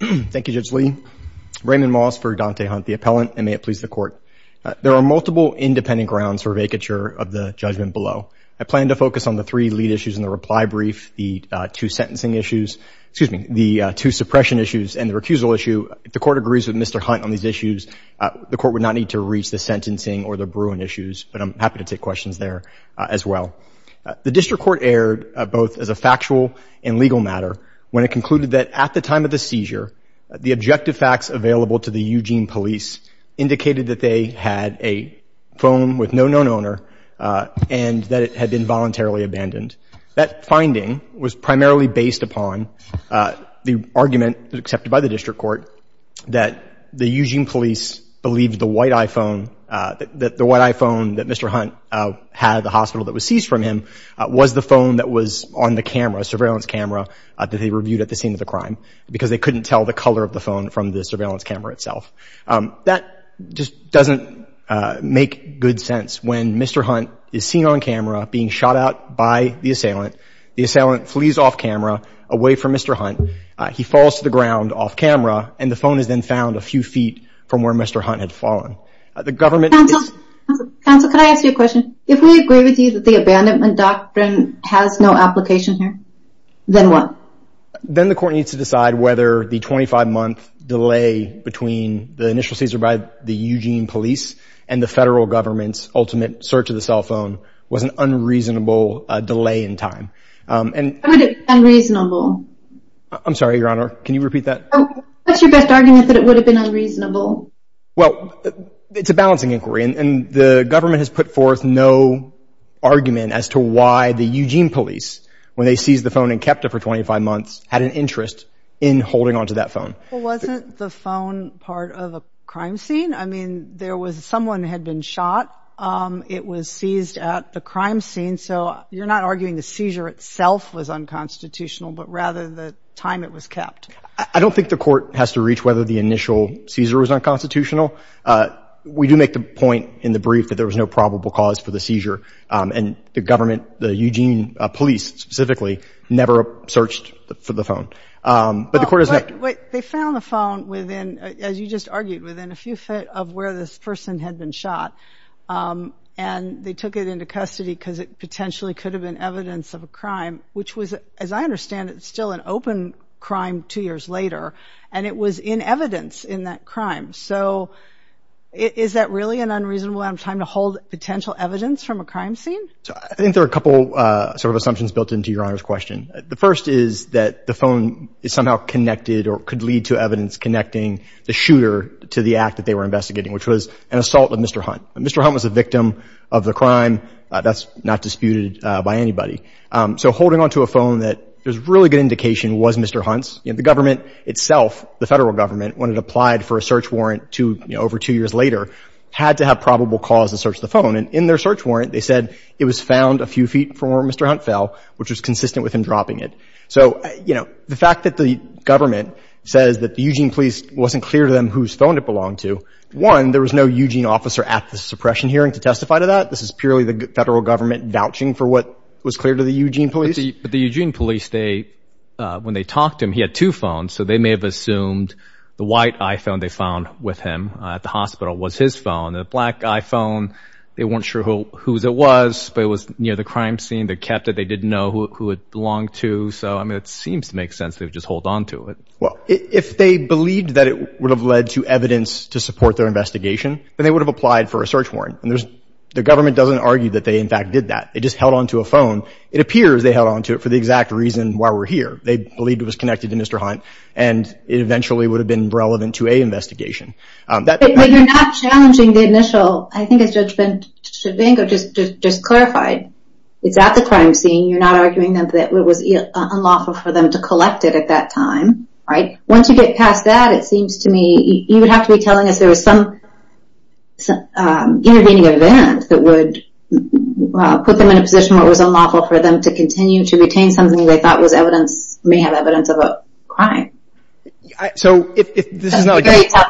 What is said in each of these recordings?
Thank you, Judge Lee. Raymond Moss for Dante Hunt, the appellant, and may it please the Court. There are multiple independent grounds for vacature of the judgment below. I plan to focus on the three lead issues in the reply brief, the two sentencing issues, excuse me, the two suppression issues, and the recusal issue. If the Court agrees with Mr. Hunt on these issues, the Court would not need to reach the sentencing or the Bruin issues, but I'm happy to take questions there as well. The District Court erred, both as a factual and legal matter, when it concluded that at the time of the seizure, the objective facts available to the Eugene Police indicated that they had a phone with no known owner and that it had been voluntarily abandoned. That finding was primarily based upon the argument accepted by the District Court that the Eugene Police believed the white iPhone that Mr. Hunt had at the hospital that was seized from him was the phone that was on the surveillance camera that they reviewed at the scene of the crime because they couldn't tell the color of the phone from the surveillance camera itself. That just doesn't make good sense when Mr. Hunt is seen on camera being shot at by the assailant, the assailant flees off camera away from Mr. Hunt, he falls to the ground off camera, and the phone is then found a few feet from where Mr. Hunt had fallen. Counsel, could I ask you a question? If we agree with you that the abandonment doctrine has no application here, then what? Then the court needs to decide whether the 25-month delay between the initial seizure by the Eugene Police and the federal government's ultimate search of the cell phone was an unreasonable delay in time. How would it be unreasonable? I'm sorry, Your Honor, can you repeat that? What's your best argument that it would have been unreasonable? Well, it's a balancing inquiry, and the government has put forth no argument as to why the Eugene Police, when they seized the phone and kept it for 25 months, had an interest in holding onto that phone. Well, wasn't the phone part of a crime scene? I mean, there was someone had been shot. It was seized at the crime scene, so you're not arguing the seizure itself was unconstitutional, but rather the time it was kept. I don't think the court has to reach whether the initial seizure was unconstitutional. We do make the point in the brief that there was no probable cause for the seizure, and the government, the Eugene Police specifically, never searched for the phone. But the court has not – But they found the phone within, as you just argued, within a few feet of where this person had been shot, and they took it into custody because it potentially could have been evidence of a crime, which was, as I understand it, still an open crime two years later, and it was in evidence in that crime. So is that really an unreasonable amount of time to hold potential evidence from a crime scene? So I think there are a couple sort of assumptions built into Your Honor's question. The first is that the phone is somehow connected or could lead to evidence connecting the shooter to the act that they were investigating, which was an assault of Mr. Hunt. Mr. Hunt was a victim of the crime. That's not disputed by anybody. So holding onto a phone that there's really good indication was Mr. Hunt's. You know, the government itself, the federal government, when it applied for a search warrant over two years later, had to have probable cause to search the phone. And in their search warrant, they said it was found a few feet from where Mr. Hunt fell, which was consistent with him dropping it. So, you know, the fact that the government says that the Eugene Police wasn't clear to them whose phone it belonged to, one, there was no Eugene officer at the suppression hearing to testify to that. This is purely the federal government vouching for what was clear to the Eugene Police. But the Eugene Police, when they talked to him, he had two phones, so they may have assumed the white iPhone they found with him at the hospital was his phone. The black iPhone, they weren't sure whose it was, but it was near the crime scene. They kept it. They didn't know who it belonged to. So, I mean, it seems to make sense they would just hold onto it. Well, if they believed that it would have led to evidence to support their investigation, then they would have applied for a search warrant. And the government doesn't argue that they, in fact, did that. They just held onto a phone. It appears they held onto it for the exact reason why we're here. They believed it was connected to Mr. Hunt, and it eventually would have been relevant to a investigation. But you're not challenging the initial, I think as Judge Ben-Shavanko just clarified, it's at the crime scene. You're not arguing that it was unlawful for them to collect it at that time, right? Once you get past that, it seems to me you would have to be telling us there was some intervening event that would put them in a position where it was something they thought was evidence, may have evidence of a crime. So, if this is not a...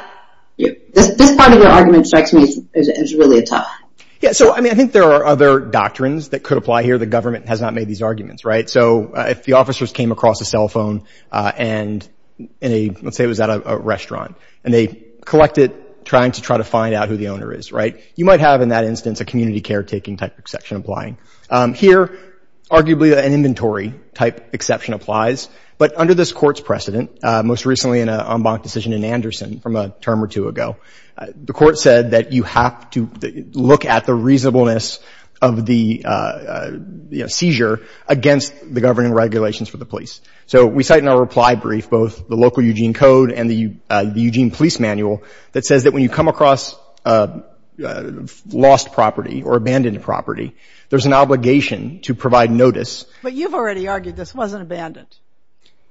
This part of your argument strikes me as really tough. Yeah, so, I mean, I think there are other doctrines that could apply here. The government has not made these arguments, right? So, if the officers came across a cell phone and in a, let's say it was at a restaurant, and they collect it trying to try to find out who the owner is, right? You might have, in that instance, a community caretaking type of exception applying. Here, arguably, an inventory type exception applies. But under this Court's precedent, most recently in an en banc decision in Anderson from a term or two ago, the Court said that you have to look at the reasonableness of the seizure against the governing regulations for the police. So, we cite in our reply brief both the local Eugene Code and the Eugene Police Manual that says that when you come across lost property or abandoned property, there's an obligation to provide notice. But you've already argued this wasn't abandoned.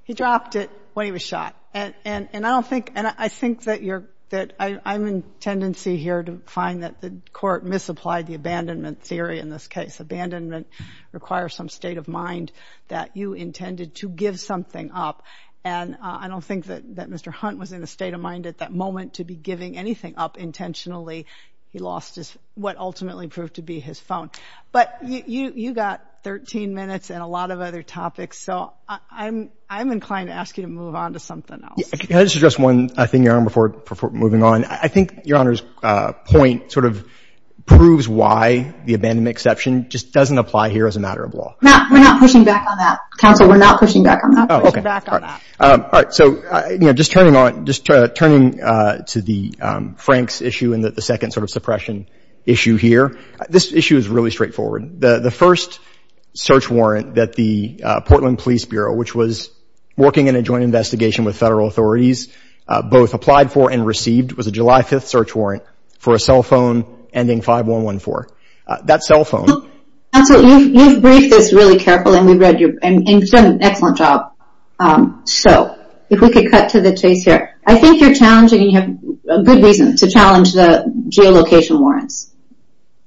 He dropped it when he was shot. And I don't think, and I think that you're, that I'm in tendency here to find that the Court misapplied the abandonment theory in this case. Abandonment requires some state of mind that you intended to give something up. And I don't think that Mr. Hunt was in a state of mind at that moment to be giving anything up intentionally. He lost what ultimately proved to be his phone. But you got 13 minutes and a lot of other topics. So, I'm inclined to ask you to move on to something else. Can I just address one thing, Your Honor, before moving on? I think Your Honor's point sort of proves why the abandonment exception just doesn't apply here as a matter of law. We're not pushing back on that. Counsel, we're not pushing back on that. Oh, okay. All right. So, you know, just turning on, just turning to the Franks issue and the second sort of suppression issue here. This issue is really straightforward. The first search warrant that the Portland Police Bureau, which was working in a joint investigation with federal authorities, both applied for and received, was a July 5th search warrant for a cell phone ending 5114. That cell phone. Counsel, you've briefed this really carefully and we've read your, and you've done an excellent job. So, if we could cut to the chase here. I think you're challenging, and you have good reason to challenge the geolocation warrants,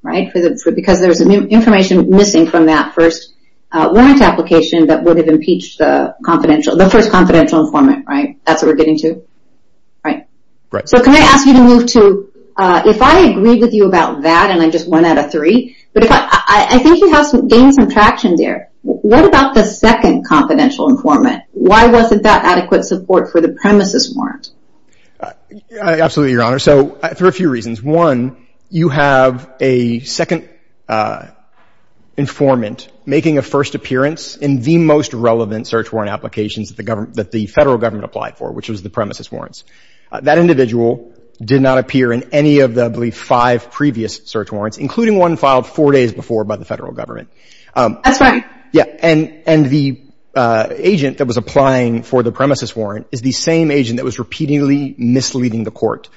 right, because there's information missing from that first warrant application that would have impeached the confidential, the first confidential informant, right? That's what we're getting to? Right. Right. So, can I ask you to move to, if I agree with you about that, and I'm just one out of three, but if I, I think you have gained some traction there. What about the second confidential informant? Why wasn't that adequate support for the premises warrant? Absolutely, Your Honor. So, there are a few reasons. One, you have a second informant making a first appearance in the most relevant search warrant applications that the federal government applied for, which was the premises warrants. That individual did not appear in any of the, I believe, five previous search warrants, including one filed four days before by the federal government. That's right. Yeah. And the agent that was applying for the premises warrant is the same agent that was repeatedly misleading the court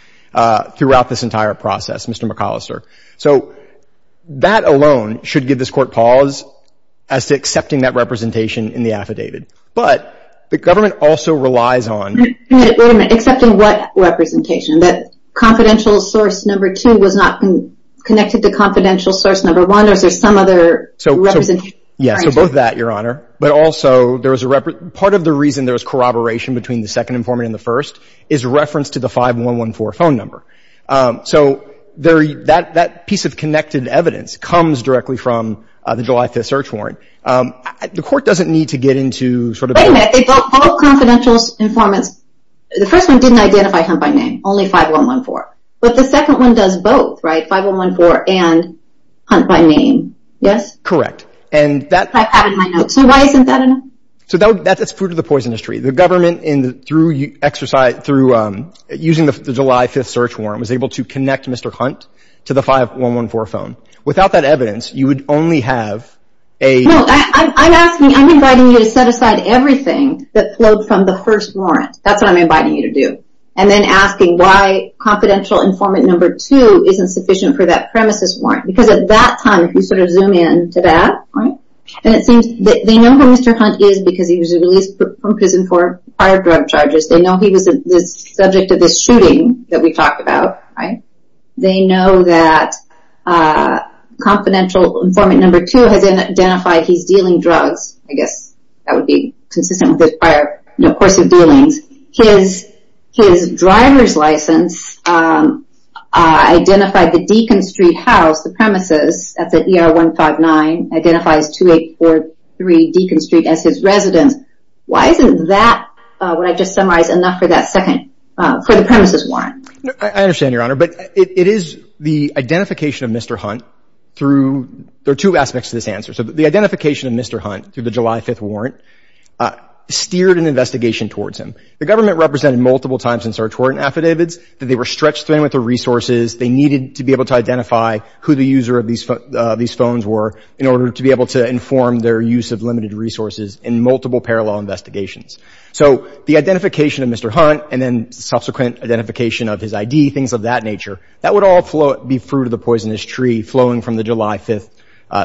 throughout this entire process, Mr. McAllister. So, that alone should give this court pause as to accepting that representation in the affidavit. But the government also relies on. Wait a minute. Accepting what representation? That confidential source number two was not connected to confidential source number one? Or is there some other representation? Yeah. So, both of that, Your Honor. But also, part of the reason there was corroboration between the second informant and the first is reference to the 5114 phone number. So, that piece of connected evidence comes directly from the July 5th search warrant. The court doesn't need to get into sort of. Wait a minute. All confidential informants. The first one didn't identify Hunt by name. Only 5114. But the second one does both, right? 5114 and Hunt by name. I have it in my notes. So, why isn't that enough? So, that's food for the poisonous tree. The government, through using the July 5th search warrant, was able to connect Mr. Hunt to the 5114 phone. Without that evidence, you would only have a. No. I'm inviting you to set aside everything that flowed from the first warrant. That's what I'm inviting you to do. And then asking why confidential informant number two isn't sufficient for that premises warrant. Because at that time, if you sort of zoom in to that, right? And it seems that they know who Mr. Hunt is because he was released from prison for prior drug charges. They know he was the subject of this shooting that we talked about, right? They know that confidential informant number two has identified he's dealing drugs. I guess that would be consistent with his prior course of dealings. His driver's license identified the Deacon Street house, the premises at the ER159, identifies 2843 Deacon Street as his residence. Why isn't that, what I just summarized, enough for that second, for the premises warrant? I understand, Your Honor. But it is the identification of Mr. Hunt through, there are two aspects to this answer. So, the identification of Mr. Hunt through the July 5th warrant steered an investigation. The government represented multiple times in search warrant affidavits that they were stretched thin with their resources, they needed to be able to identify who the user of these phones were in order to be able to inform their use of limited resources in multiple parallel investigations. So, the identification of Mr. Hunt and then subsequent identification of his ID, things of that nature, that would all flow, be fruit of the poisonous tree flowing from the July 5th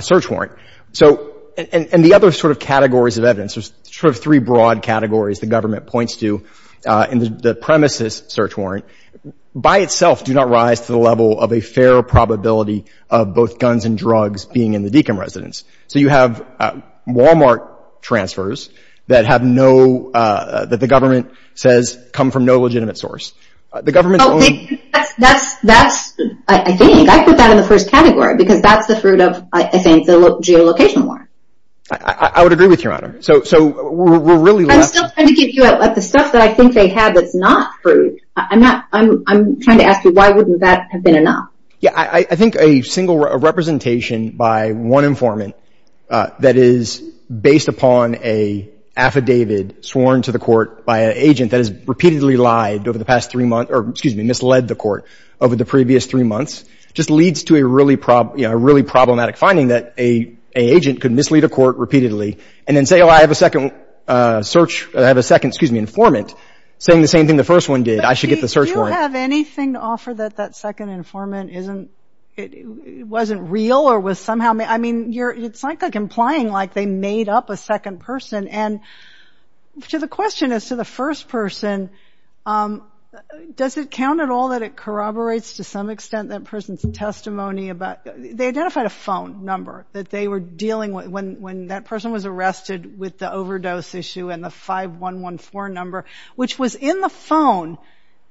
search warrant. So, and the other sort of categories of evidence, there's sort of three broad categories the government points to in the premises search warrant, by itself do not rise to the level of a fair probability of both guns and drugs being in the Deacon residence. So, you have Walmart transfers that have no, that the government says come from no legitimate source. The government's only. That's, I think, I put that in the first category because that's the fruit of, I think, the geolocation warrant. I would agree with you, Your Honor. So, we're really left. I'm still trying to give you the stuff that I think they have that's not fruit. I'm not, I'm trying to ask you why wouldn't that have been enough? Yeah, I think a single representation by one informant that is based upon a affidavit sworn to the court by an agent that has repeatedly lied over the past three months, or excuse me, misled the court over the previous three months, just leads to a really problematic finding that a agent could mislead a court repeatedly and then say, oh, I have a second search, I have a second, excuse me, informant, saying the same thing the first one did. I should get the search warrant. Do you have anything to offer that that second informant isn't, wasn't real or was somehow, I mean, you're, it's like implying like they made up a second person. And to the question as to the first person, does it count at all that it corroborates to some extent that person's testimony about, they identified a phone number that they were dealing with when that person was arrested with the overdose issue and the 5114 number, which was in the phone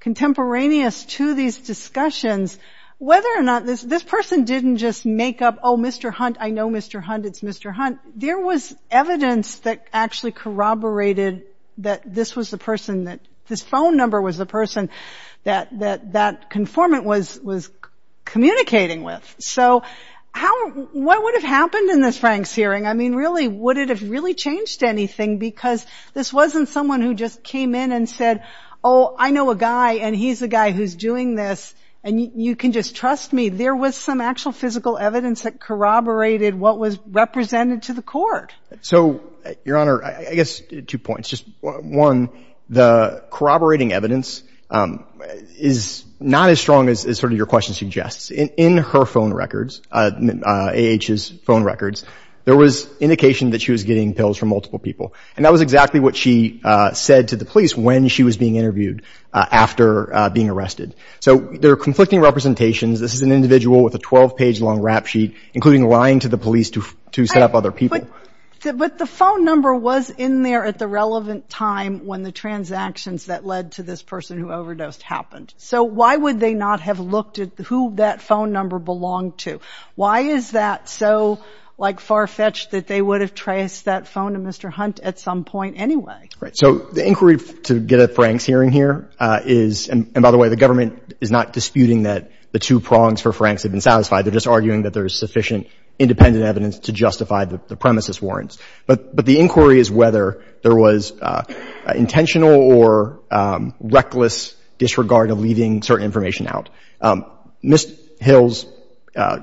contemporaneous to these discussions, whether or not this person didn't just make up, oh, Mr. Hunt, I know Mr. Hunt, it's Mr. Hunt. There was evidence that actually corroborated that this was the person that, this phone number was the person that that conformant was communicating with. So how, what would have happened in this Frank's hearing? I mean, really, would it have really changed anything because this wasn't someone who just came in and said, oh, I know a guy and he's the guy who's doing this. And you can just trust me. There was some actual physical evidence that corroborated what was represented to the court. So your honor, I guess two points, just one, the corroborating evidence is not as strong as, sort of your question suggests. In her phone records, A.H.'s phone records, there was indication that she was getting pills from multiple people. And that was exactly what she said to the police when she was being interviewed after being arrested. So there are conflicting representations. This is an individual with a 12-page long rap sheet, including lying to the police to set up other people. But the phone number was in there at the relevant time when the transactions that led to this person who overdosed happened. So why would they not have looked at who that phone number belonged to? Why is that so, like, far-fetched that they would have traced that phone to Mr. Hunt at some point anyway? So the inquiry to get at Frank's hearing here is, and by the way, the government is not disputing that the two prongs for Frank's have been satisfied. They're just arguing that there's sufficient independent evidence to justify the premises warrants. But the inquiry is whether there was intentional or reckless disregard of leaving certain information out. Ms. Hill's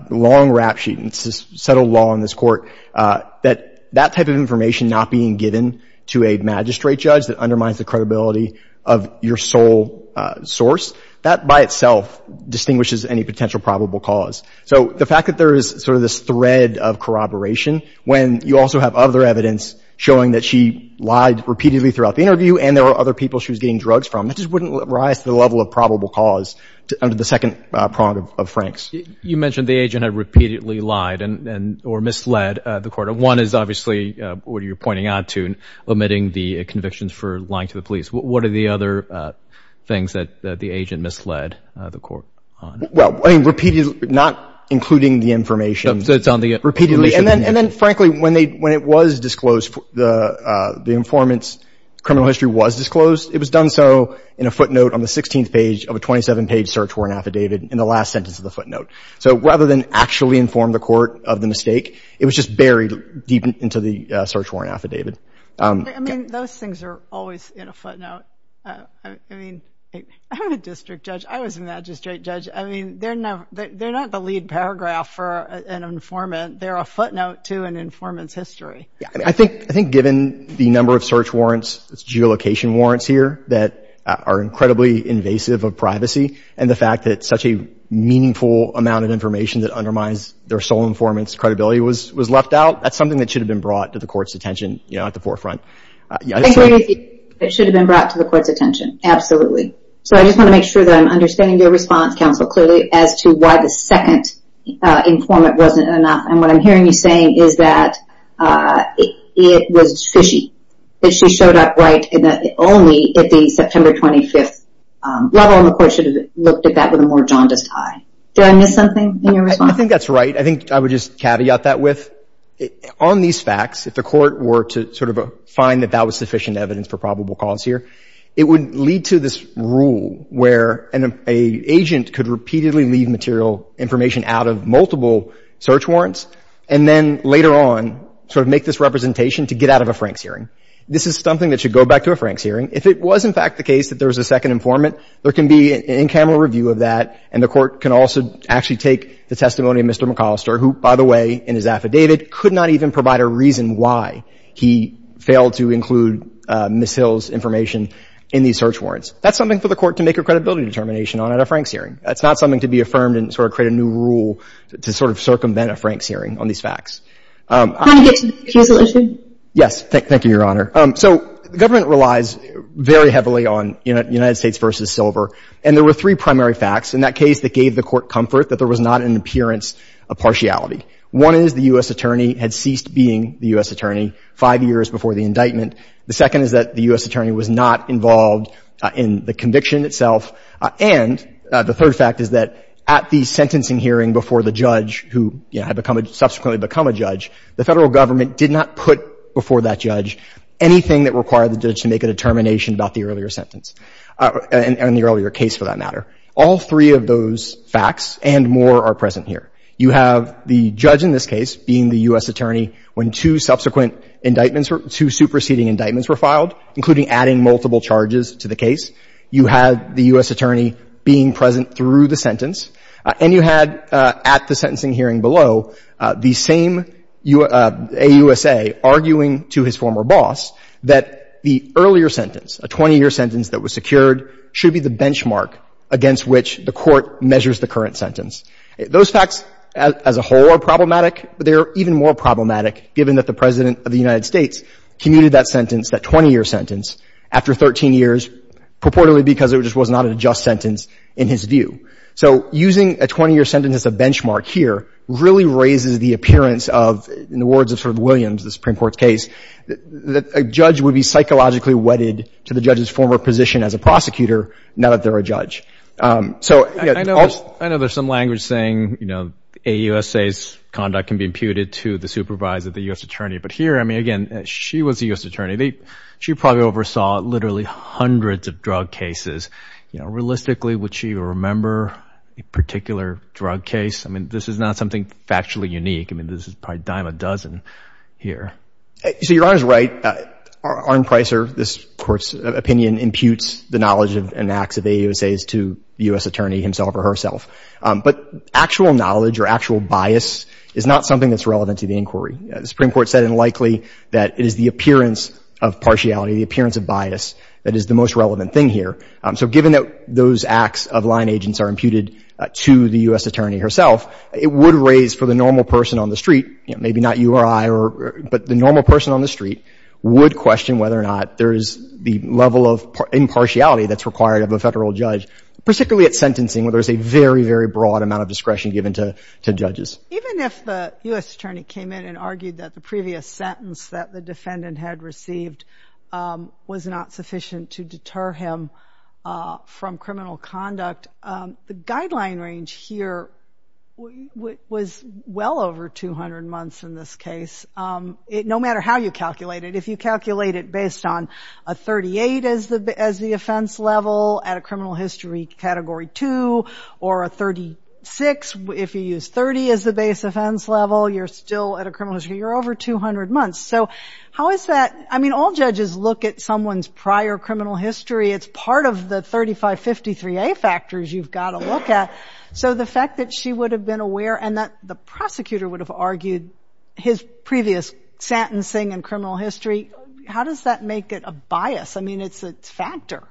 long rap sheet, and this is settled law in this Court, that that type of information not being given to a magistrate judge that undermines the credibility of your sole source, that by itself distinguishes any potential probable cause. So the fact that there is sort of this thread of corroboration, when you also have other evidence showing that she lied repeatedly throughout the interview and there were other people she was getting drugs from, that just wouldn't rise to the level of probable cause under the second prong of Frank's. You mentioned the agent had repeatedly lied or misled the Court. One is obviously what you're pointing out to, omitting the convictions for lying to the police. What are the other things that the agent misled the Court on? Well, I mean, not including the information. So it's on the information. And then, frankly, when it was disclosed, the informant's criminal history was disclosed, it was done so in a footnote on the 16th page of a 27-page search warrant affidavit in the last sentence of the footnote. So rather than actually inform the Court of the mistake, it was just buried deep into the search warrant affidavit. I mean, those things are always in a footnote. I mean, I'm a district judge. I was a magistrate judge. I mean, they're not the lead paragraph for an informant. They're a footnote to an informant's history. I mean, I think given the number of search warrants, geolocation warrants here that are incredibly invasive of privacy, and the fact that such a meaningful amount of information that undermines their sole informant's credibility was left out, that's something that should have been brought to the Court's attention, you know, at the forefront. I agree with you. It should have been brought to the Court's attention. Absolutely. So I just want to make sure that I'm understanding your response, counsel, clearly, as to why the second informant wasn't enough. And what I'm hearing you saying is that it was fishy, that she showed up right only at the September 25th level, and the Court should have looked at that with a more jaundiced eye. Did I miss something in your response? I think that's right. I think I would just caveat that with, on these facts, if the Court were to sort of find that that was sufficient evidence for probable cause here, it would lead to this rule where an agent could repeatedly leave material information out of multiple search warrants and then later on sort of make this representation to get out of a Franks hearing. This is something that should go back to a Franks hearing. If it was, in fact, the case that there was a second informant, there can be an in-camera review of that, and the Court can also actually take the testimony of Mr. McAllister, who, by the way, in his affidavit, could not even provide a reason why he failed to include Ms. Hill's information in these search warrants. That's something for the Court to make a credibility determination on at a Franks hearing. That's not something to be affirmed and sort of create a new rule to sort of circumvent a Franks hearing on these facts. I'm going to get to the accusation. Yes. Thank you, Your Honor. So the government relies very heavily on United States v. Silver, and there were three primary facts in that case that gave the Court comfort that there was not an appearance of partiality. One is the U.S. attorney had ceased being the U.S. attorney five years before the indictment. The second is that the U.S. attorney was not involved in the conviction itself. And the third fact is that at the sentencing hearing before the judge who, you know, had become a — subsequently become a judge, the Federal Government did not put before that judge anything that required the judge to make a determination about the earlier sentence, and the earlier case, for that matter. All three of those facts and more are present here. You have the judge in this case being the U.S. attorney when two subsequent indictments were — two superseding indictments were filed, including adding multiple charges to the case. You had the U.S. attorney being present through the sentence. And you had, at the sentencing hearing below, the same AUSA arguing to his former boss that the earlier sentence, a 20-year sentence that was secured, should be the benchmark against which the Court measures the current sentence. Those facts as a whole are problematic, but they are even more problematic given that the President of the United States commuted that sentence, that 20-year sentence, after 13 years purportedly because it just was not a just sentence in his view. So using a 20-year sentence as a benchmark here really raises the appearance of, in the words of Sir Williams, the Supreme Court's case, that a judge would be psychologically wedded to the judge's former position as a prosecutor now that they're a judge. So — I know there's some language saying, you know, AUSA's conduct can be imputed to the supervisor, the U.S. attorney. But here, I mean, again, she was the U.S. attorney. She probably oversaw literally hundreds of drug cases. You know, realistically, would she remember a particular drug case? I mean, this is not something factually unique. I mean, this is probably a dime a dozen here. So Your Honor's right. Arne Pricer, this Court's opinion, imputes the knowledge and acts of AUSA's to the U.S. attorney himself or herself. But actual knowledge or actual bias is not something that's relevant to the Supreme Court. The Supreme Court said unlikely that it is the appearance of partiality, the appearance of bias, that is the most relevant thing here. So given that those acts of line agents are imputed to the U.S. attorney herself, it would raise for the normal person on the street, you know, maybe not you or I, but the normal person on the street, would question whether or not there is the level of impartiality that's required of a Federal judge, particularly at sentencing where there's a very, very broad amount of discretion given to judges. Even if the U.S. attorney came in and argued that the previous sentence that the defendant had received was not sufficient to deter him from criminal conduct, the guideline range here was well over 200 months in this case. No matter how you calculate it, if you calculate it based on a 38 as the offense level at a criminal history Category 2 or a 36, if you use 30 as the base offense level, you're still at a criminal history. You're over 200 months. So how is that? I mean, all judges look at someone's prior criminal history. It's part of the 3553A factors you've got to look at. So the fact that she would have been aware and that the prosecutor would have argued his previous sentencing and criminal history, how does that make it a bias? I mean, it's a factor.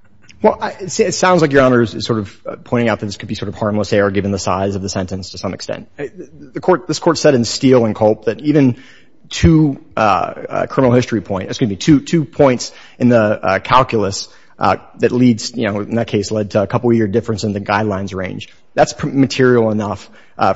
Well, it sounds like Your Honor is sort of pointing out that this could be sort of harmless error given the size of the sentence to some extent. This Court said in Steele and Culp that even two criminal history points, excuse me, two points in the calculus that leads, you know, in that case led to a couple year difference in the guidelines range. That's material enough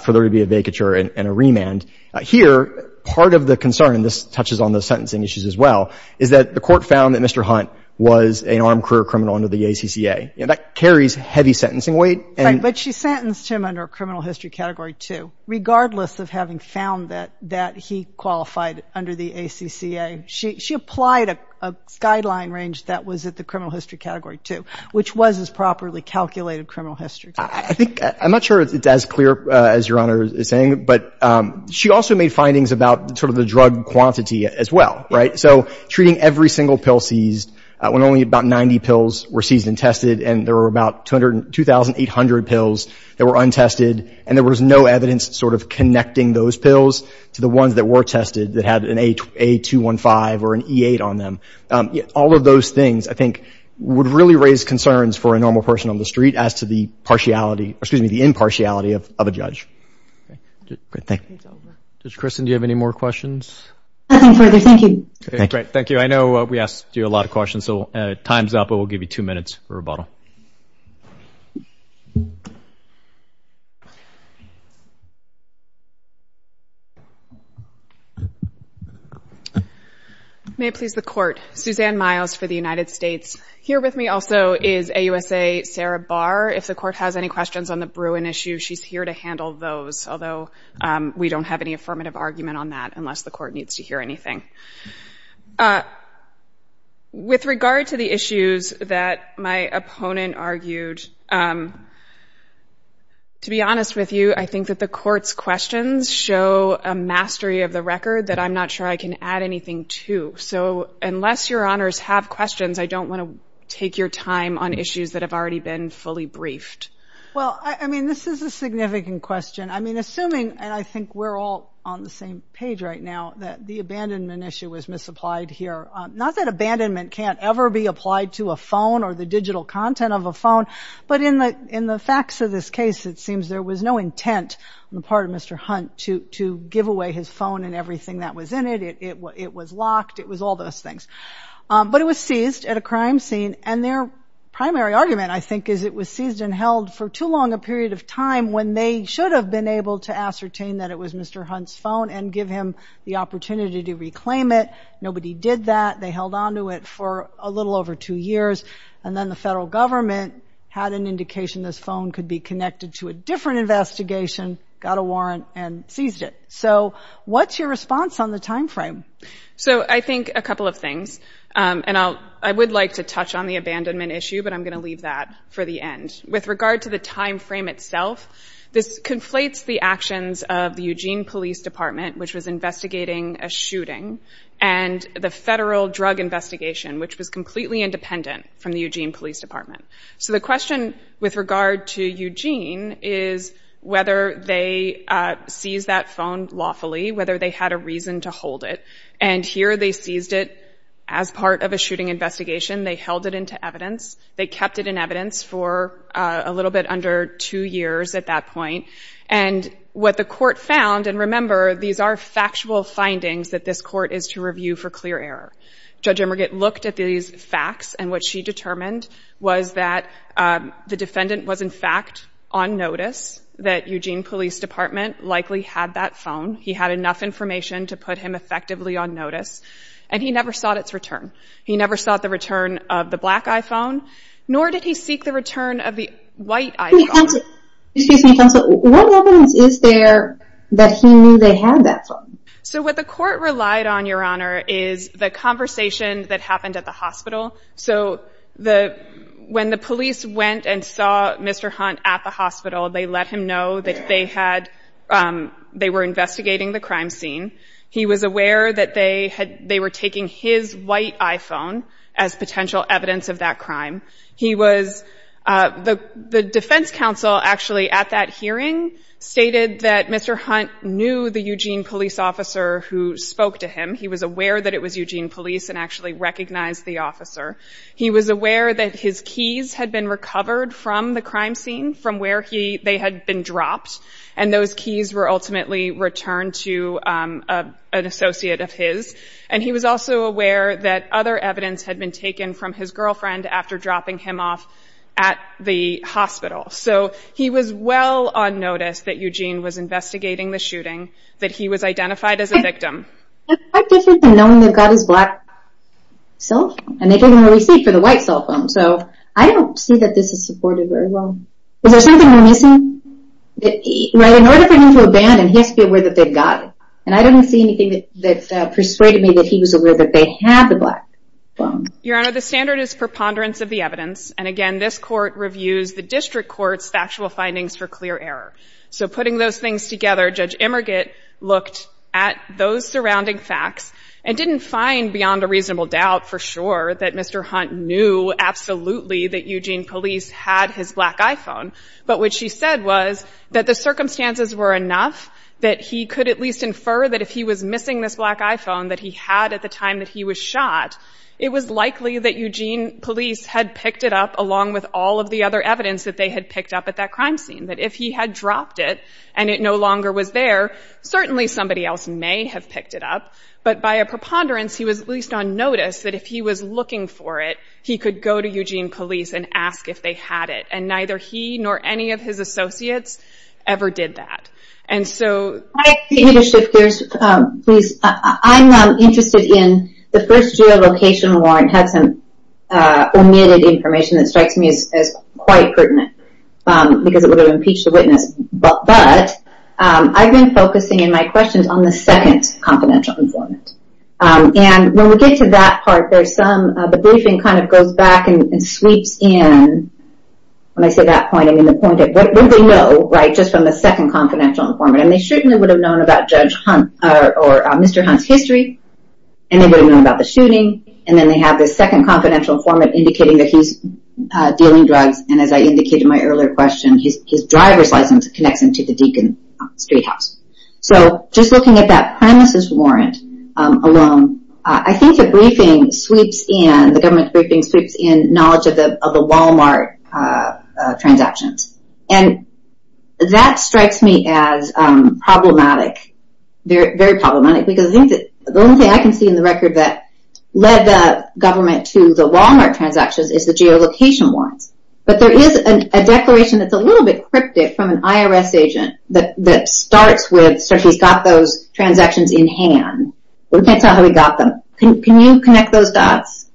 for there to be a vacature and a remand. Here, part of the concern, and this touches on the sentencing issues as well, is that the Court found that Mr. Hunt was an armed career criminal under the ACCA. That carries heavy sentencing weight. Right. But she sentenced him under a criminal history Category 2, regardless of having found that he qualified under the ACCA. She applied a guideline range that was at the criminal history Category 2, which was his properly calculated criminal history. I think — I'm not sure it's as clear as Your Honor is saying, but she also made findings about sort of the drug quantity as well, right? So treating every single pill seized, when only about 90 pills were seized and tested, and there were about 2,800 pills that were untested, and there was no evidence sort of connecting those pills to the ones that were tested that had an A215 or an E8 on them. All of those things, I think, would really raise concerns for a normal person on the street as to the partiality — excuse me, the impartiality of a judge. Thank you. Mr. Christin, do you have any more questions? Nothing further. Thank you. Great. Thank you. I know we asked you a lot of questions, so time's up, but we'll give you two minutes for rebuttal. May it please the Court. Suzanne Miles for the United States. Here with me also is AUSA Sarah Barr. If the Court has any questions on the Bruin issue, she's here to handle those, although we don't have any affirmative argument on that unless the Court needs to hear anything. With regard to the issues that my opponent argued, to be honest with you, I think that the Court's questions show a mastery of the record that I'm not sure I can add anything to. So unless Your Honors have questions, I don't want to take your time on issues that have already been fully briefed. Well, I mean, this is a significant question. I mean, assuming, and I think we're all on the same page right now, that the abandonment issue was misapplied here. Not that abandonment can't ever be applied to a phone or the digital content of a phone, but in the facts of this case, it seems there was no intent on the part of Mr. Hunt to give away his phone and everything that was in it. It was locked. It was all those things. But it was seized at a crime scene, and their primary argument, I think, is it was Mr. Hunt's phone and give him the opportunity to reclaim it. Nobody did that. They held on to it for a little over two years, and then the federal government had an indication this phone could be connected to a different investigation, got a warrant, and seized it. So what's your response on the timeframe? So I think a couple of things, and I would like to touch on the abandonment issue, but I'm going to leave that for the end. With regard to the timeframe itself, this conflates the actions of the Eugene Police Department, which was investigating a shooting, and the federal drug investigation, which was completely independent from the Eugene Police Department. So the question with regard to Eugene is whether they seized that phone lawfully, whether they had a reason to hold it. And here they seized it as part of a shooting investigation. They held it into evidence. They kept it in evidence for a little bit under two years at that point. And what the court found, and remember, these are factual findings that this court is to review for clear error. Judge Emmergat looked at these facts, and what she determined was that the defendant was, in fact, on notice that Eugene Police Department likely had that phone. He had enough information to put him effectively on notice, and he never sought its return. He never sought the return of the black iPhone, nor did he seek the return of the white iPhone. Excuse me, counsel. What evidence is there that he knew they had that phone? So what the court relied on, Your Honor, is the conversation that happened at the hospital. So when the police went and saw Mr. Hunt at the hospital, they let him know that they were investigating the crime scene. He was aware that they were taking his white iPhone as potential evidence of that crime. He was the defense counsel actually at that hearing stated that Mr. Hunt knew the Eugene police officer who spoke to him. He was aware that it was Eugene police and actually recognized the officer. He was aware that his keys had been recovered from the crime scene, from where they had been dropped, and those keys were ultimately returned to an associate of his. And he was also aware that other evidence had been taken from his girlfriend after dropping him off at the hospital. So he was well on notice that Eugene was investigating the shooting, that he was identified as a victim. That's quite different than knowing they've got his black cell phone, and they gave him a receipt for the white cell phone. So I don't see that this is supported very well. Is there something missing? In order for him to abandon, he has to be aware that they've got it. And I don't see anything that persuaded me that he was aware that they had the black phone. Your Honor, the standard is preponderance of the evidence. And again, this court reviews the district court's factual findings for clear error. So putting those things together, Judge Immergitt looked at those surrounding facts and didn't find beyond a reasonable doubt for sure that Mr. Hunt knew absolutely that Eugene police had his black iPhone. But what she said was that the circumstances were enough that he could at least infer that if he was missing this black iPhone that he had at the time that he was shot, it was likely that Eugene police had picked it up along with all of the other evidence that they had picked up at that crime scene. That if he had dropped it and it no longer was there, certainly somebody else may have picked it up. But by a preponderance, he was at least on notice that if he was looking for it, he could go to Eugene police and ask if they had it. And neither he nor any of his associates ever did that. I need to shift gears, please. I'm interested in the first geolocation warrant had some omitted information that strikes me as quite pertinent because it would have impeached the witness. But I've been focusing in my questions on the second confidential informant. And when we get to that part, the briefing kind of goes back and sweeps in. When I say that point, I mean the point of what would they know, right, just from the second confidential informant? And they certainly would have known about Judge Hunt or Mr. Hunt's history. And they would have known about the shooting. And then they have this second confidential informant indicating that he's dealing drugs. And as I indicated in my earlier question, his driver's license connects him to the Deakin street house. So just looking at that premises warrant alone, I think the briefing sweeps in, the government briefing sweeps in knowledge of the Wal-Mart transactions. And that strikes me as problematic, very problematic, because I think the only thing I can see in the record that led the government to the Wal-Mart transactions is the geolocation warrants. But there is a declaration that's a little bit cryptic from an IRS agent that starts with, so he's got those transactions in hand. We can't tell how he got them. Can you connect those dots?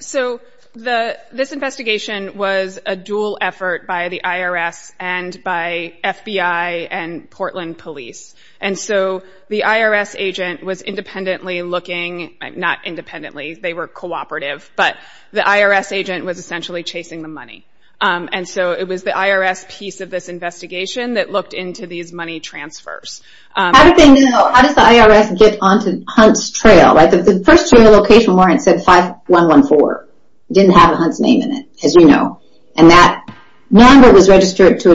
So this investigation was a dual effort by the IRS and by FBI and Portland police. And so the IRS agent was independently looking, not independently, they were cooperative, but the IRS agent was essentially chasing the money. And so it was the IRS piece of this investigation that looked into these money transfers. How does the IRS get onto Hunt's trail? The first location warrant said 5114. It didn't have Hunt's name in it, as you know. And that number was registered to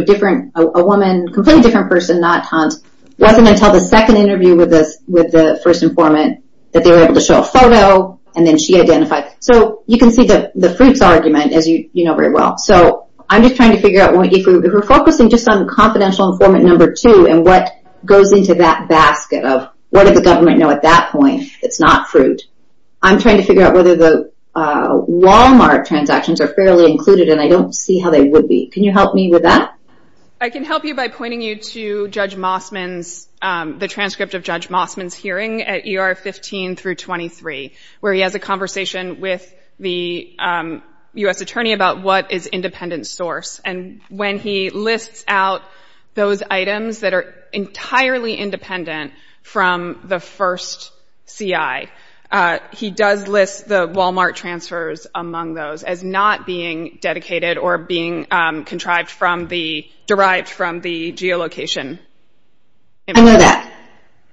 a woman, a completely different person, not Hunt. It wasn't until the second interview with the first informant that they were able to show a photo, and then she identified. So you can see the fruits argument, as you know very well. So I'm just trying to figure out, if we're focusing just on confidential informant number two, and what goes into that basket of, what did the government know at that point? It's not fruit. I'm trying to figure out whether the Walmart transactions are fairly included, and I don't see how they would be. Can you help me with that? I can help you by pointing you to Judge Mossman's, the transcript of Judge Mossman's hearing at ER 15 through 23, where he has a conversation with the U.S. attorney about what is independent source. And when he lists out those items that are entirely independent from the first CI, he does list the Walmart transfers among those as not being dedicated or being contrived from the, derived from the geolocation. I know that.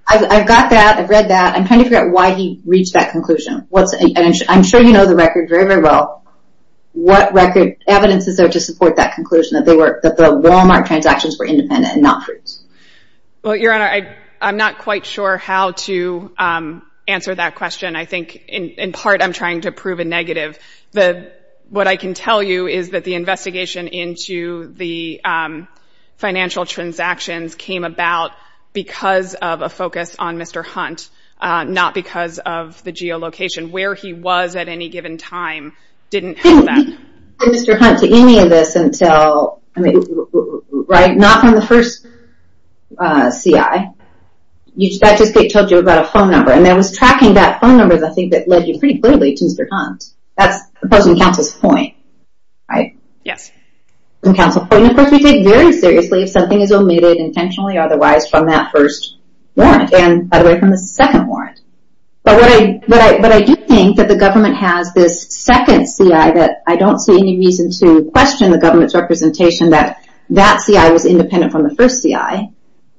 I've got that. I've read that. I'm trying to figure out why he reached that conclusion. I'm sure you know the record very, very well. What record evidence is there to support that conclusion, that the Walmart transactions were independent and not fruits? Well, Your Honor, I'm not quite sure how to answer that question. I think, in part, I'm trying to prove a negative. What I can tell you is that the investigation into the financial transactions came about because of a focus on Mr. Hunt, not because of the geolocation. Where he was at any given time didn't have that. We didn't get Mr. Hunt to any of this until, right, not from the first CI. That just told you about a phone number. And I was tracking that phone number, I think, that led you pretty clearly to Mr. Hunt. That's opposing counsel's point, right? Yes. Opposing counsel's point. And, of course, we take very seriously if something is omitted intentionally or otherwise from that first warrant, and by the way, from the second warrant. But I do think that the government has this second CI that I don't see any reason to question the government's representation that that CI was independent from the first CI,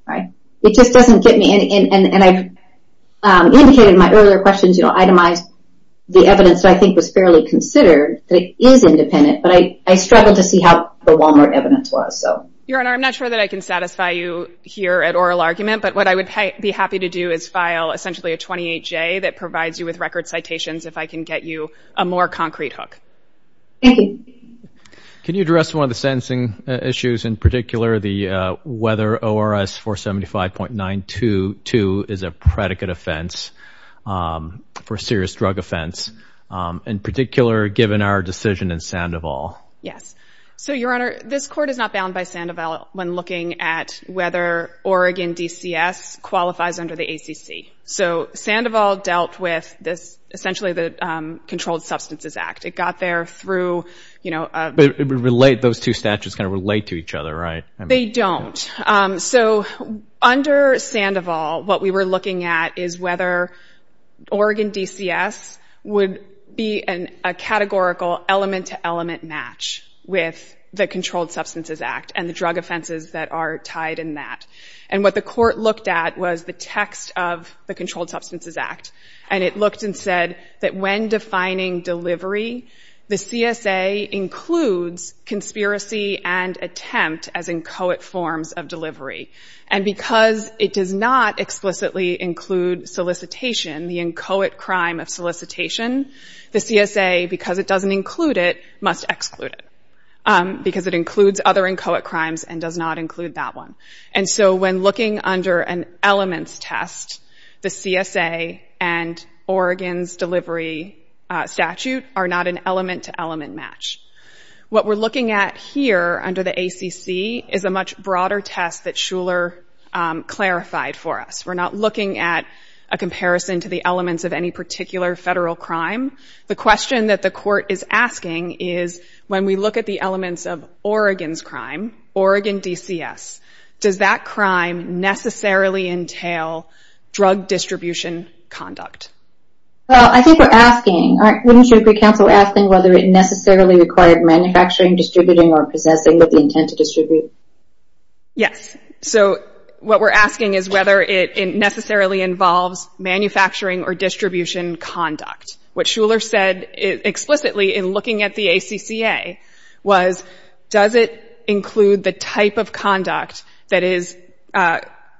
right? It just doesn't get me. And I indicated in my earlier questions, you know, itemized the evidence that I think was fairly considered that it is independent, but I struggled to see how the Walmart evidence was. Your Honor, I'm not sure that I can satisfy you here at oral argument, but what I would be happy to do is file essentially a 28-J that provides you with record citations if I can get you a more concrete hook. Can you address one of the sentencing issues in particular, the whether ORS 475.922 is a predicate offense for serious drug offense, in particular given our decision in Sandoval? Yes. So, Your Honor, this court is not bound by Sandoval when looking at whether Oregon DCS qualifies under the ACC. So Sandoval dealt with essentially the Controlled Substances Act. It got there through, you know— But those two statutes kind of relate to each other, right? They don't. So under Sandoval, what we were looking at is whether Oregon DCS would be a categorical element-to-element match with the Controlled Substances Act and the drug offenses that are tied in that. And what the court looked at was the text of the Controlled Substances Act, and it looked and said that when defining delivery, the CSA includes conspiracy and attempt as inchoate forms of delivery. And because it does not explicitly include solicitation, the inchoate crime of solicitation, the CSA, because it doesn't include it, must exclude it because it includes other inchoate crimes and does not include that one. And so when looking under an elements test, the CSA and Oregon's delivery statute are not an element-to-element match. What we're looking at here under the ACC is a much broader test that Shuler clarified for us. We're not looking at a comparison to the elements of any particular federal crime. The question that the court is asking is, when we look at the elements of Oregon's crime, Oregon DCS, does that crime necessarily entail drug distribution conduct? Well, I think we're asking, wouldn't you agree, counsel, asking whether it necessarily required manufacturing, distributing, or possessing with the intent to distribute? Yes. So what we're asking is whether it necessarily involves manufacturing or distribution conduct. What Shuler said explicitly in looking at the ACCA was, does it include the type of conduct that is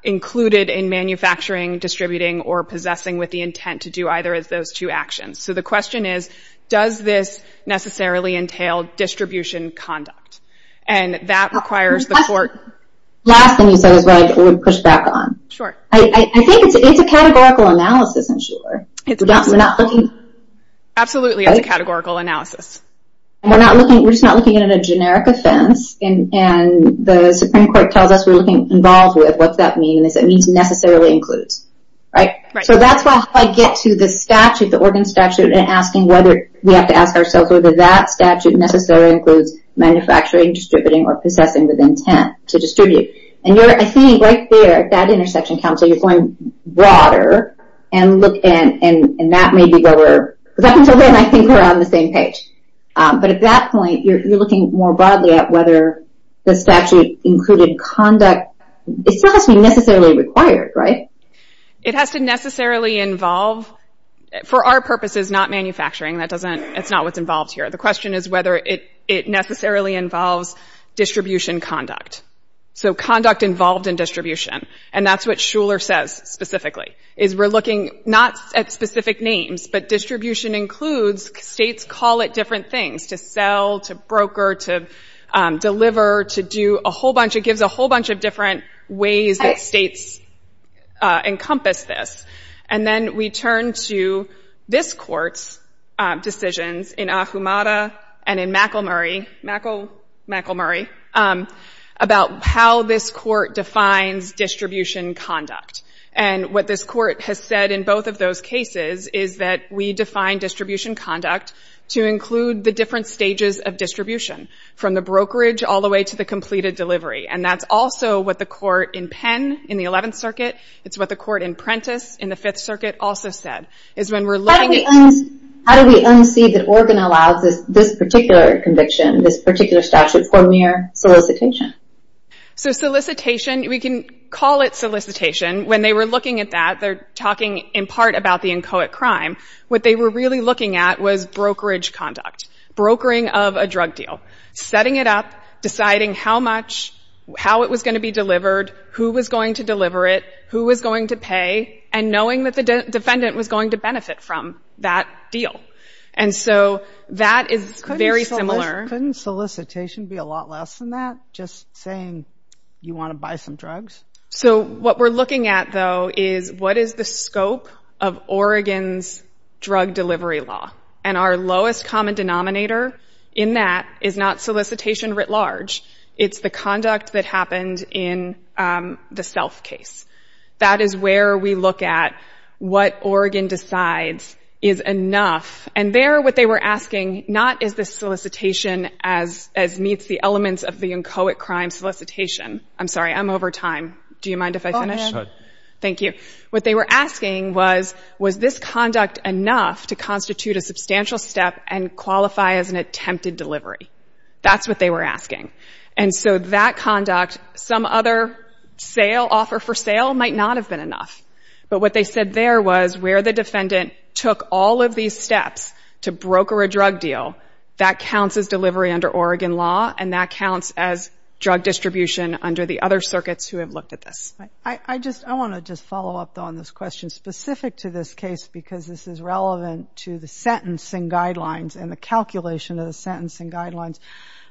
included in manufacturing, distributing, or possessing with the intent to do either of those two actions? So the question is, does this necessarily entail distribution conduct? And that requires the court... Last thing you said is what I would push back on. Sure. I think it's a categorical analysis in Shuler. We're not looking... Absolutely, it's a categorical analysis. We're just not looking at a generic offense, and the Supreme Court tells us we're looking involved with what that means, and it means necessarily includes. So that's how I get to the statute, the Oregon statute, and asking whether we have to ask ourselves whether that statute necessarily includes manufacturing, distributing, or possessing with intent to distribute. And I think right there, that intersection comes, so you're going broader, and that may be where we're... Because up until then, I think we're on the same page. But at that point, you're looking more broadly at whether the statute included conduct. It still has to be necessarily required, right? It has to necessarily involve, for our purposes, not manufacturing. That's not what's involved here. The question is whether it necessarily involves distribution conduct. So conduct involved in distribution, and that's what Shuler says specifically, is we're looking not at specific names, but distribution includes. States call it different things, to sell, to broker, to deliver, to do a whole bunch. It gives a whole bunch of different ways that states encompass this. And then we turn to this Court's decisions in Ahumada and in McElmurry about how this Court defines distribution conduct. And what this Court has said in both of those cases is that we define distribution conduct to include the different stages of distribution, from the brokerage all the way to the completed delivery. And that's also what the Court in Penn, in the Eleventh Circuit, it's what the Court in Prentiss, in the Fifth Circuit, also said. How do we unsee that Oregon allows this particular conviction, this particular statute, for mere solicitation? So solicitation, we can call it solicitation. When they were looking at that, they're talking in part about the inchoate crime. What they were really looking at was brokerage conduct, brokering of a drug deal, setting it up, deciding how much, how it was going to be delivered, who was going to deliver it, who was going to pay, and knowing that the defendant was going to benefit from that deal. And so that is very similar. Couldn't solicitation be a lot less than that, just saying you want to buy some drugs? So what we're looking at, though, is what is the scope of Oregon's drug delivery law? And our lowest common denominator in that is not solicitation writ large. It's the conduct that happened in the Stealth case. That is where we look at what Oregon decides is enough. And there, what they were asking not is this solicitation as meets the elements of the inchoate crime solicitation. I'm sorry, I'm over time. Do you mind if I finish? Go ahead. Thank you. What they were asking was, was this conduct enough to constitute a substantial step and qualify as an attempted delivery? That's what they were asking. And so that conduct, some other offer for sale, might not have been enough. But what they said there was where the defendant took all of these steps to broker a drug deal, that counts as delivery under Oregon law, and that counts as drug distribution under the other circuits who have looked at this. I want to just follow up, though, on this question, specific to this case, because this is relevant to the sentencing guidelines and the calculation of the sentencing guidelines.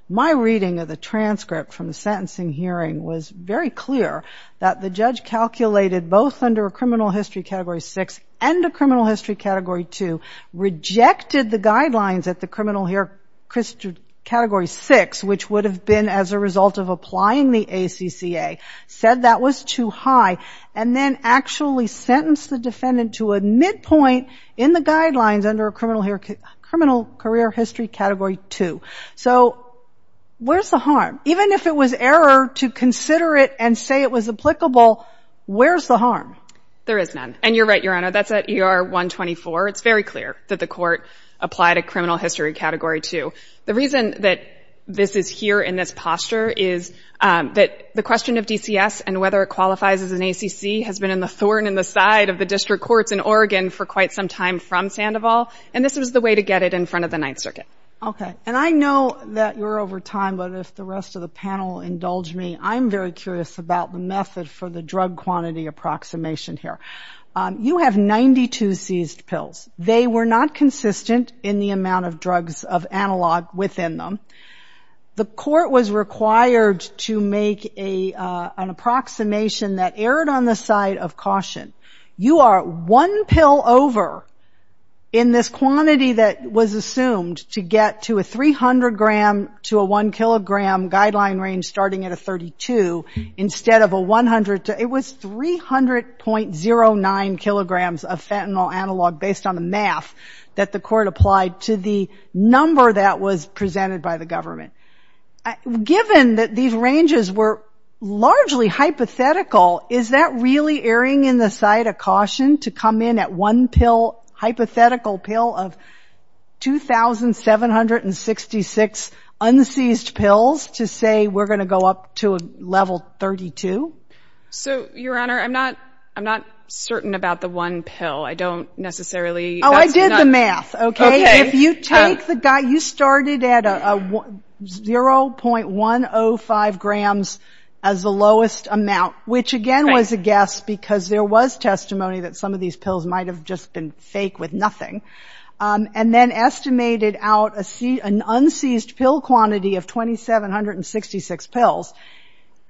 My reading of the transcript from the sentencing hearing was very clear that the judge calculated, both under a criminal history Category 6 and a criminal history Category 2, rejected the guidelines at the criminal history Category 6, which would have been as a result of applying the ACCA, said that was too high, and then actually sentenced the defendant to a midpoint in the guidelines under a criminal career history Category 2. So where's the harm? Even if it was error to consider it and say it was applicable, where's the harm? There is none. And you're right, Your Honor, that's at ER 124. It's very clear that the court applied a criminal history Category 2. The reason that this is here in this posture is that the question of DCS and whether it qualifies as an ACC has been in the thorn in the side of the district courts in Oregon for quite some time from Sandoval, and this was the way to get it in front of the Ninth Circuit. Okay. And I know that you're over time, but if the rest of the panel indulge me, I'm very curious about the method for the drug quantity approximation here. You have 92 seized pills. They were not consistent in the amount of drugs of analog within them. The court was required to make an approximation that erred on the side of caution. You are one pill over in this quantity that was assumed to get to a 300-gram to a 1-kilogram guideline range starting at a 32 instead of a 100. It was 300.09 kilograms of fentanyl analog based on the math that the court applied to the number that was presented by the government. Given that these ranges were largely hypothetical, is that really erring in the side of caution to come in at one pill, hypothetical pill of 2,766 unseized pills to say we're going to go up to a level 32? So, Your Honor, I'm not certain about the one pill. I don't necessarily – Oh, I did the math. Okay. If you take the – you started at 0.105 grams as the lowest amount, which again was a guess because there was testimony that some of these pills might have just been fake with nothing, and then estimated out an unseized pill quantity of 2,766 pills,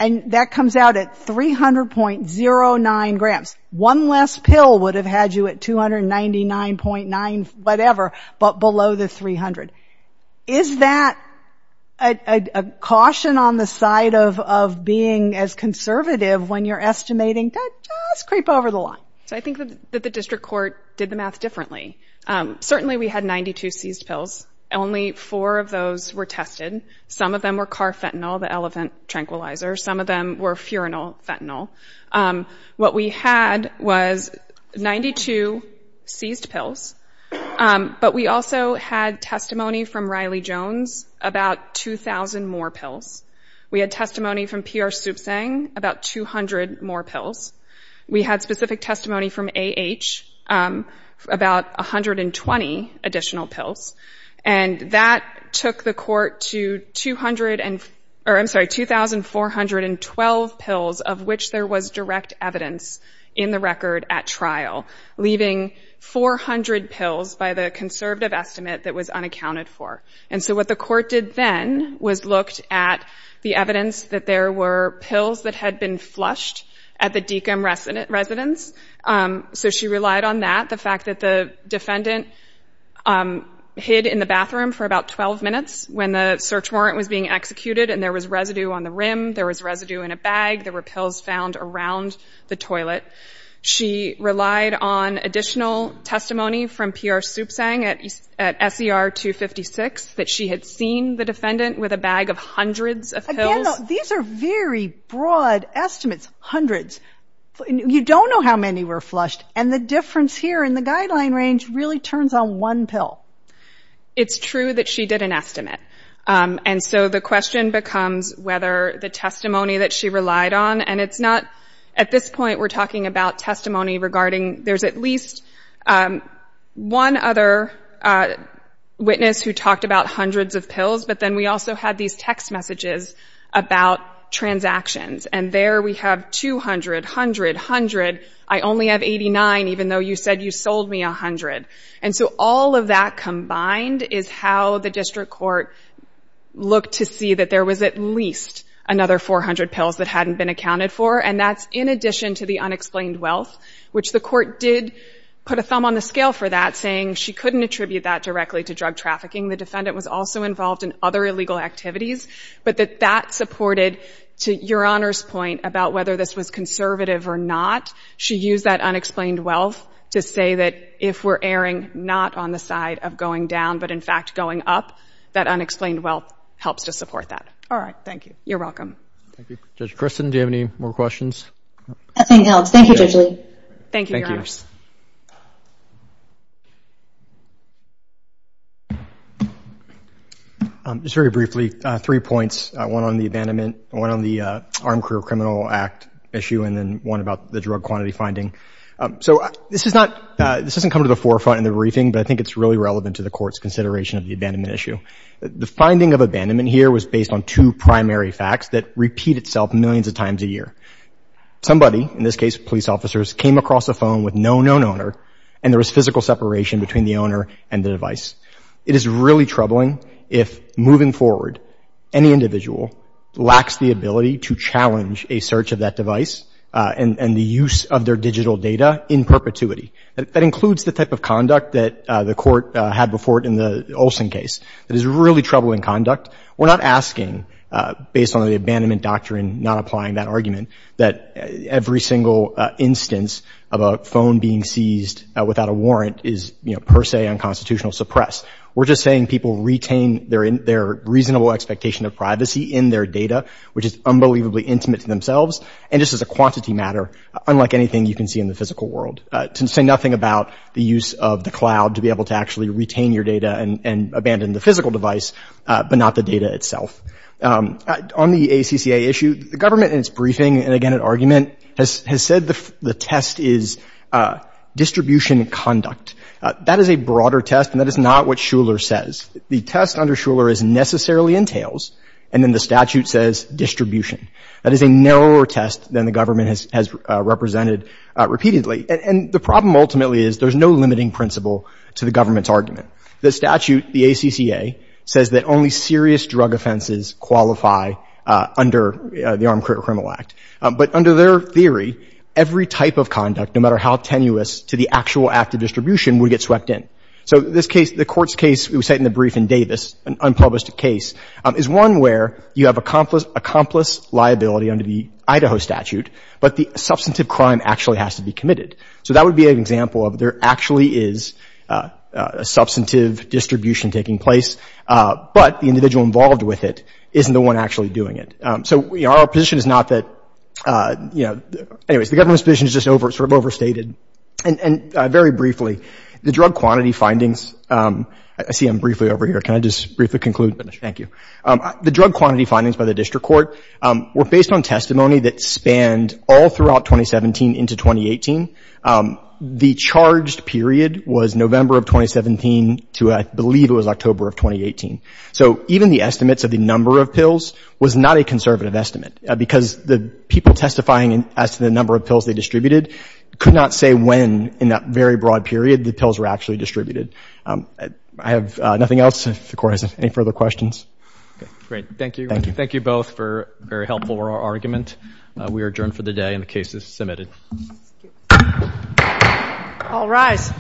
and that comes out at 300.09 grams. One less pill would have had you at 299.9 whatever, but below the 300. Is that a caution on the side of being as conservative when you're estimating to just creep over the line? I think that the district court did the math differently. Certainly, we had 92 seized pills. Only four of those were tested. Some of them were carfentanil, the elephant tranquilizer. Some of them were furanol fentanyl. What we had was 92 seized pills, but we also had testimony from Riley Jones about 2,000 more pills. We had testimony from P.R. Supsang about 200 more pills. We had specific testimony from A.H. about 120 additional pills, and that took the court to 2,412 pills of which there was direct evidence in the record at trial, leaving 400 pills by the conservative estimate that was unaccounted for. And so what the court did then was looked at the evidence that there were pills that had been flushed at the Deakin residence, so she relied on that, the fact that the defendant hid in the bathroom for about 12 minutes when the search warrant was being executed and there was residue on the rim, there was residue in a bag, there were pills found around the toilet. She relied on additional testimony from P.R. Supsang at S.E.R. 256 that she had seen the defendant with a bag of hundreds of pills. Again, these are very broad estimates, hundreds. You don't know how many were flushed, and the difference here in the guideline range really turns on one pill. It's true that she did an estimate, and so the question becomes whether the testimony that she relied on, and it's not at this point we're talking about testimony regarding there's at least one other witness who talked about hundreds of pills, but then we also had these text messages about transactions, and there we have 200, 100, 100. I only have 89, even though you said you sold me 100. And so all of that combined is how the district court looked to see that there was at least another 400 pills that hadn't been accounted for, and that's in addition to the unexplained wealth, which the court did put a thumb on the scale for that, saying she couldn't attribute that directly to drug trafficking. The defendant was also involved in other illegal activities, but that that supported, to Your Honor's point about whether this was conservative or not, she used that unexplained wealth to say that if we're erring not on the side of going down, but in fact going up, that unexplained wealth helps to support that. All right, thank you. You're welcome. Thank you. Judge Christin, do you have any more questions? Nothing else. Thank you, Judge Lee. Thank you, Your Honors. Thank you. Just very briefly, three points, one on the abandonment, one on the Armed Career Criminal Act issue, and then one about the drug quantity finding. So this is not, this doesn't come to the forefront in the briefing, but I think it's really relevant to the Court's consideration of the abandonment issue. The finding of abandonment here was based on two primary facts that repeat itself millions of times a year. Somebody, in this case police officers, came across a phone with no known owner, and there was physical separation between the owner and the device. It is really troubling if, moving forward, any individual lacks the ability to challenge a search of that device and the use of their digital data in perpetuity. That includes the type of conduct that the Court had before it in the Olson case. It is really troubling conduct. We're not asking, based on the abandonment doctrine, not applying that argument, that every single instance of a phone being seized without a warrant is, you know, per se unconstitutional suppress. We're just saying people retain their reasonable expectation of privacy in their data, which is unbelievably intimate to themselves, and just as a quantity matter, unlike anything you can see in the physical world. To say nothing about the use of the cloud to be able to actually retain your data and abandon the physical device, but not the data itself. On the ACCA issue, the government in its briefing, and again, in argument, has said the test is distribution conduct. That is a broader test, and that is not what Shuler says. The test under Shuler is necessarily entails, and then the statute says distribution. That is a narrower test than the government has represented repeatedly, and the problem ultimately is there's no limiting principle to the government's argument. The statute, the ACCA, says that only serious drug offenses qualify under the Armed Criminal Act, but under their theory, every type of conduct, no matter how tenuous, to the actual act of distribution would get swept in. So this case, the court's case, it was set in the brief in Davis, an unpublished case, is one where you have accomplice liability under the Idaho statute, but the substantive crime actually has to be committed. So that would be an example of there actually is a substantive distribution taking place, but the individual involved with it isn't the one actually doing it. So, you know, our position is not that, you know, anyways, the government's position is just sort of overstated. And very briefly, the drug quantity findings, I see I'm briefly over here. Can I just briefly conclude? Thank you. The drug quantity findings by the district court were based on testimony that spanned all throughout 2017 into 2018. The charged period was November of 2017 to I believe it was October of 2018. So even the estimates of the number of pills was not a conservative estimate because the people testifying as to the number of pills they distributed could not say when in that very broad period the pills were actually distributed. I have nothing else if the court has any further questions. Great. Thank you. Thank you. Thank you both for a very helpful oral argument. We are adjourned for the day and the case is submitted. Thank you. All rise.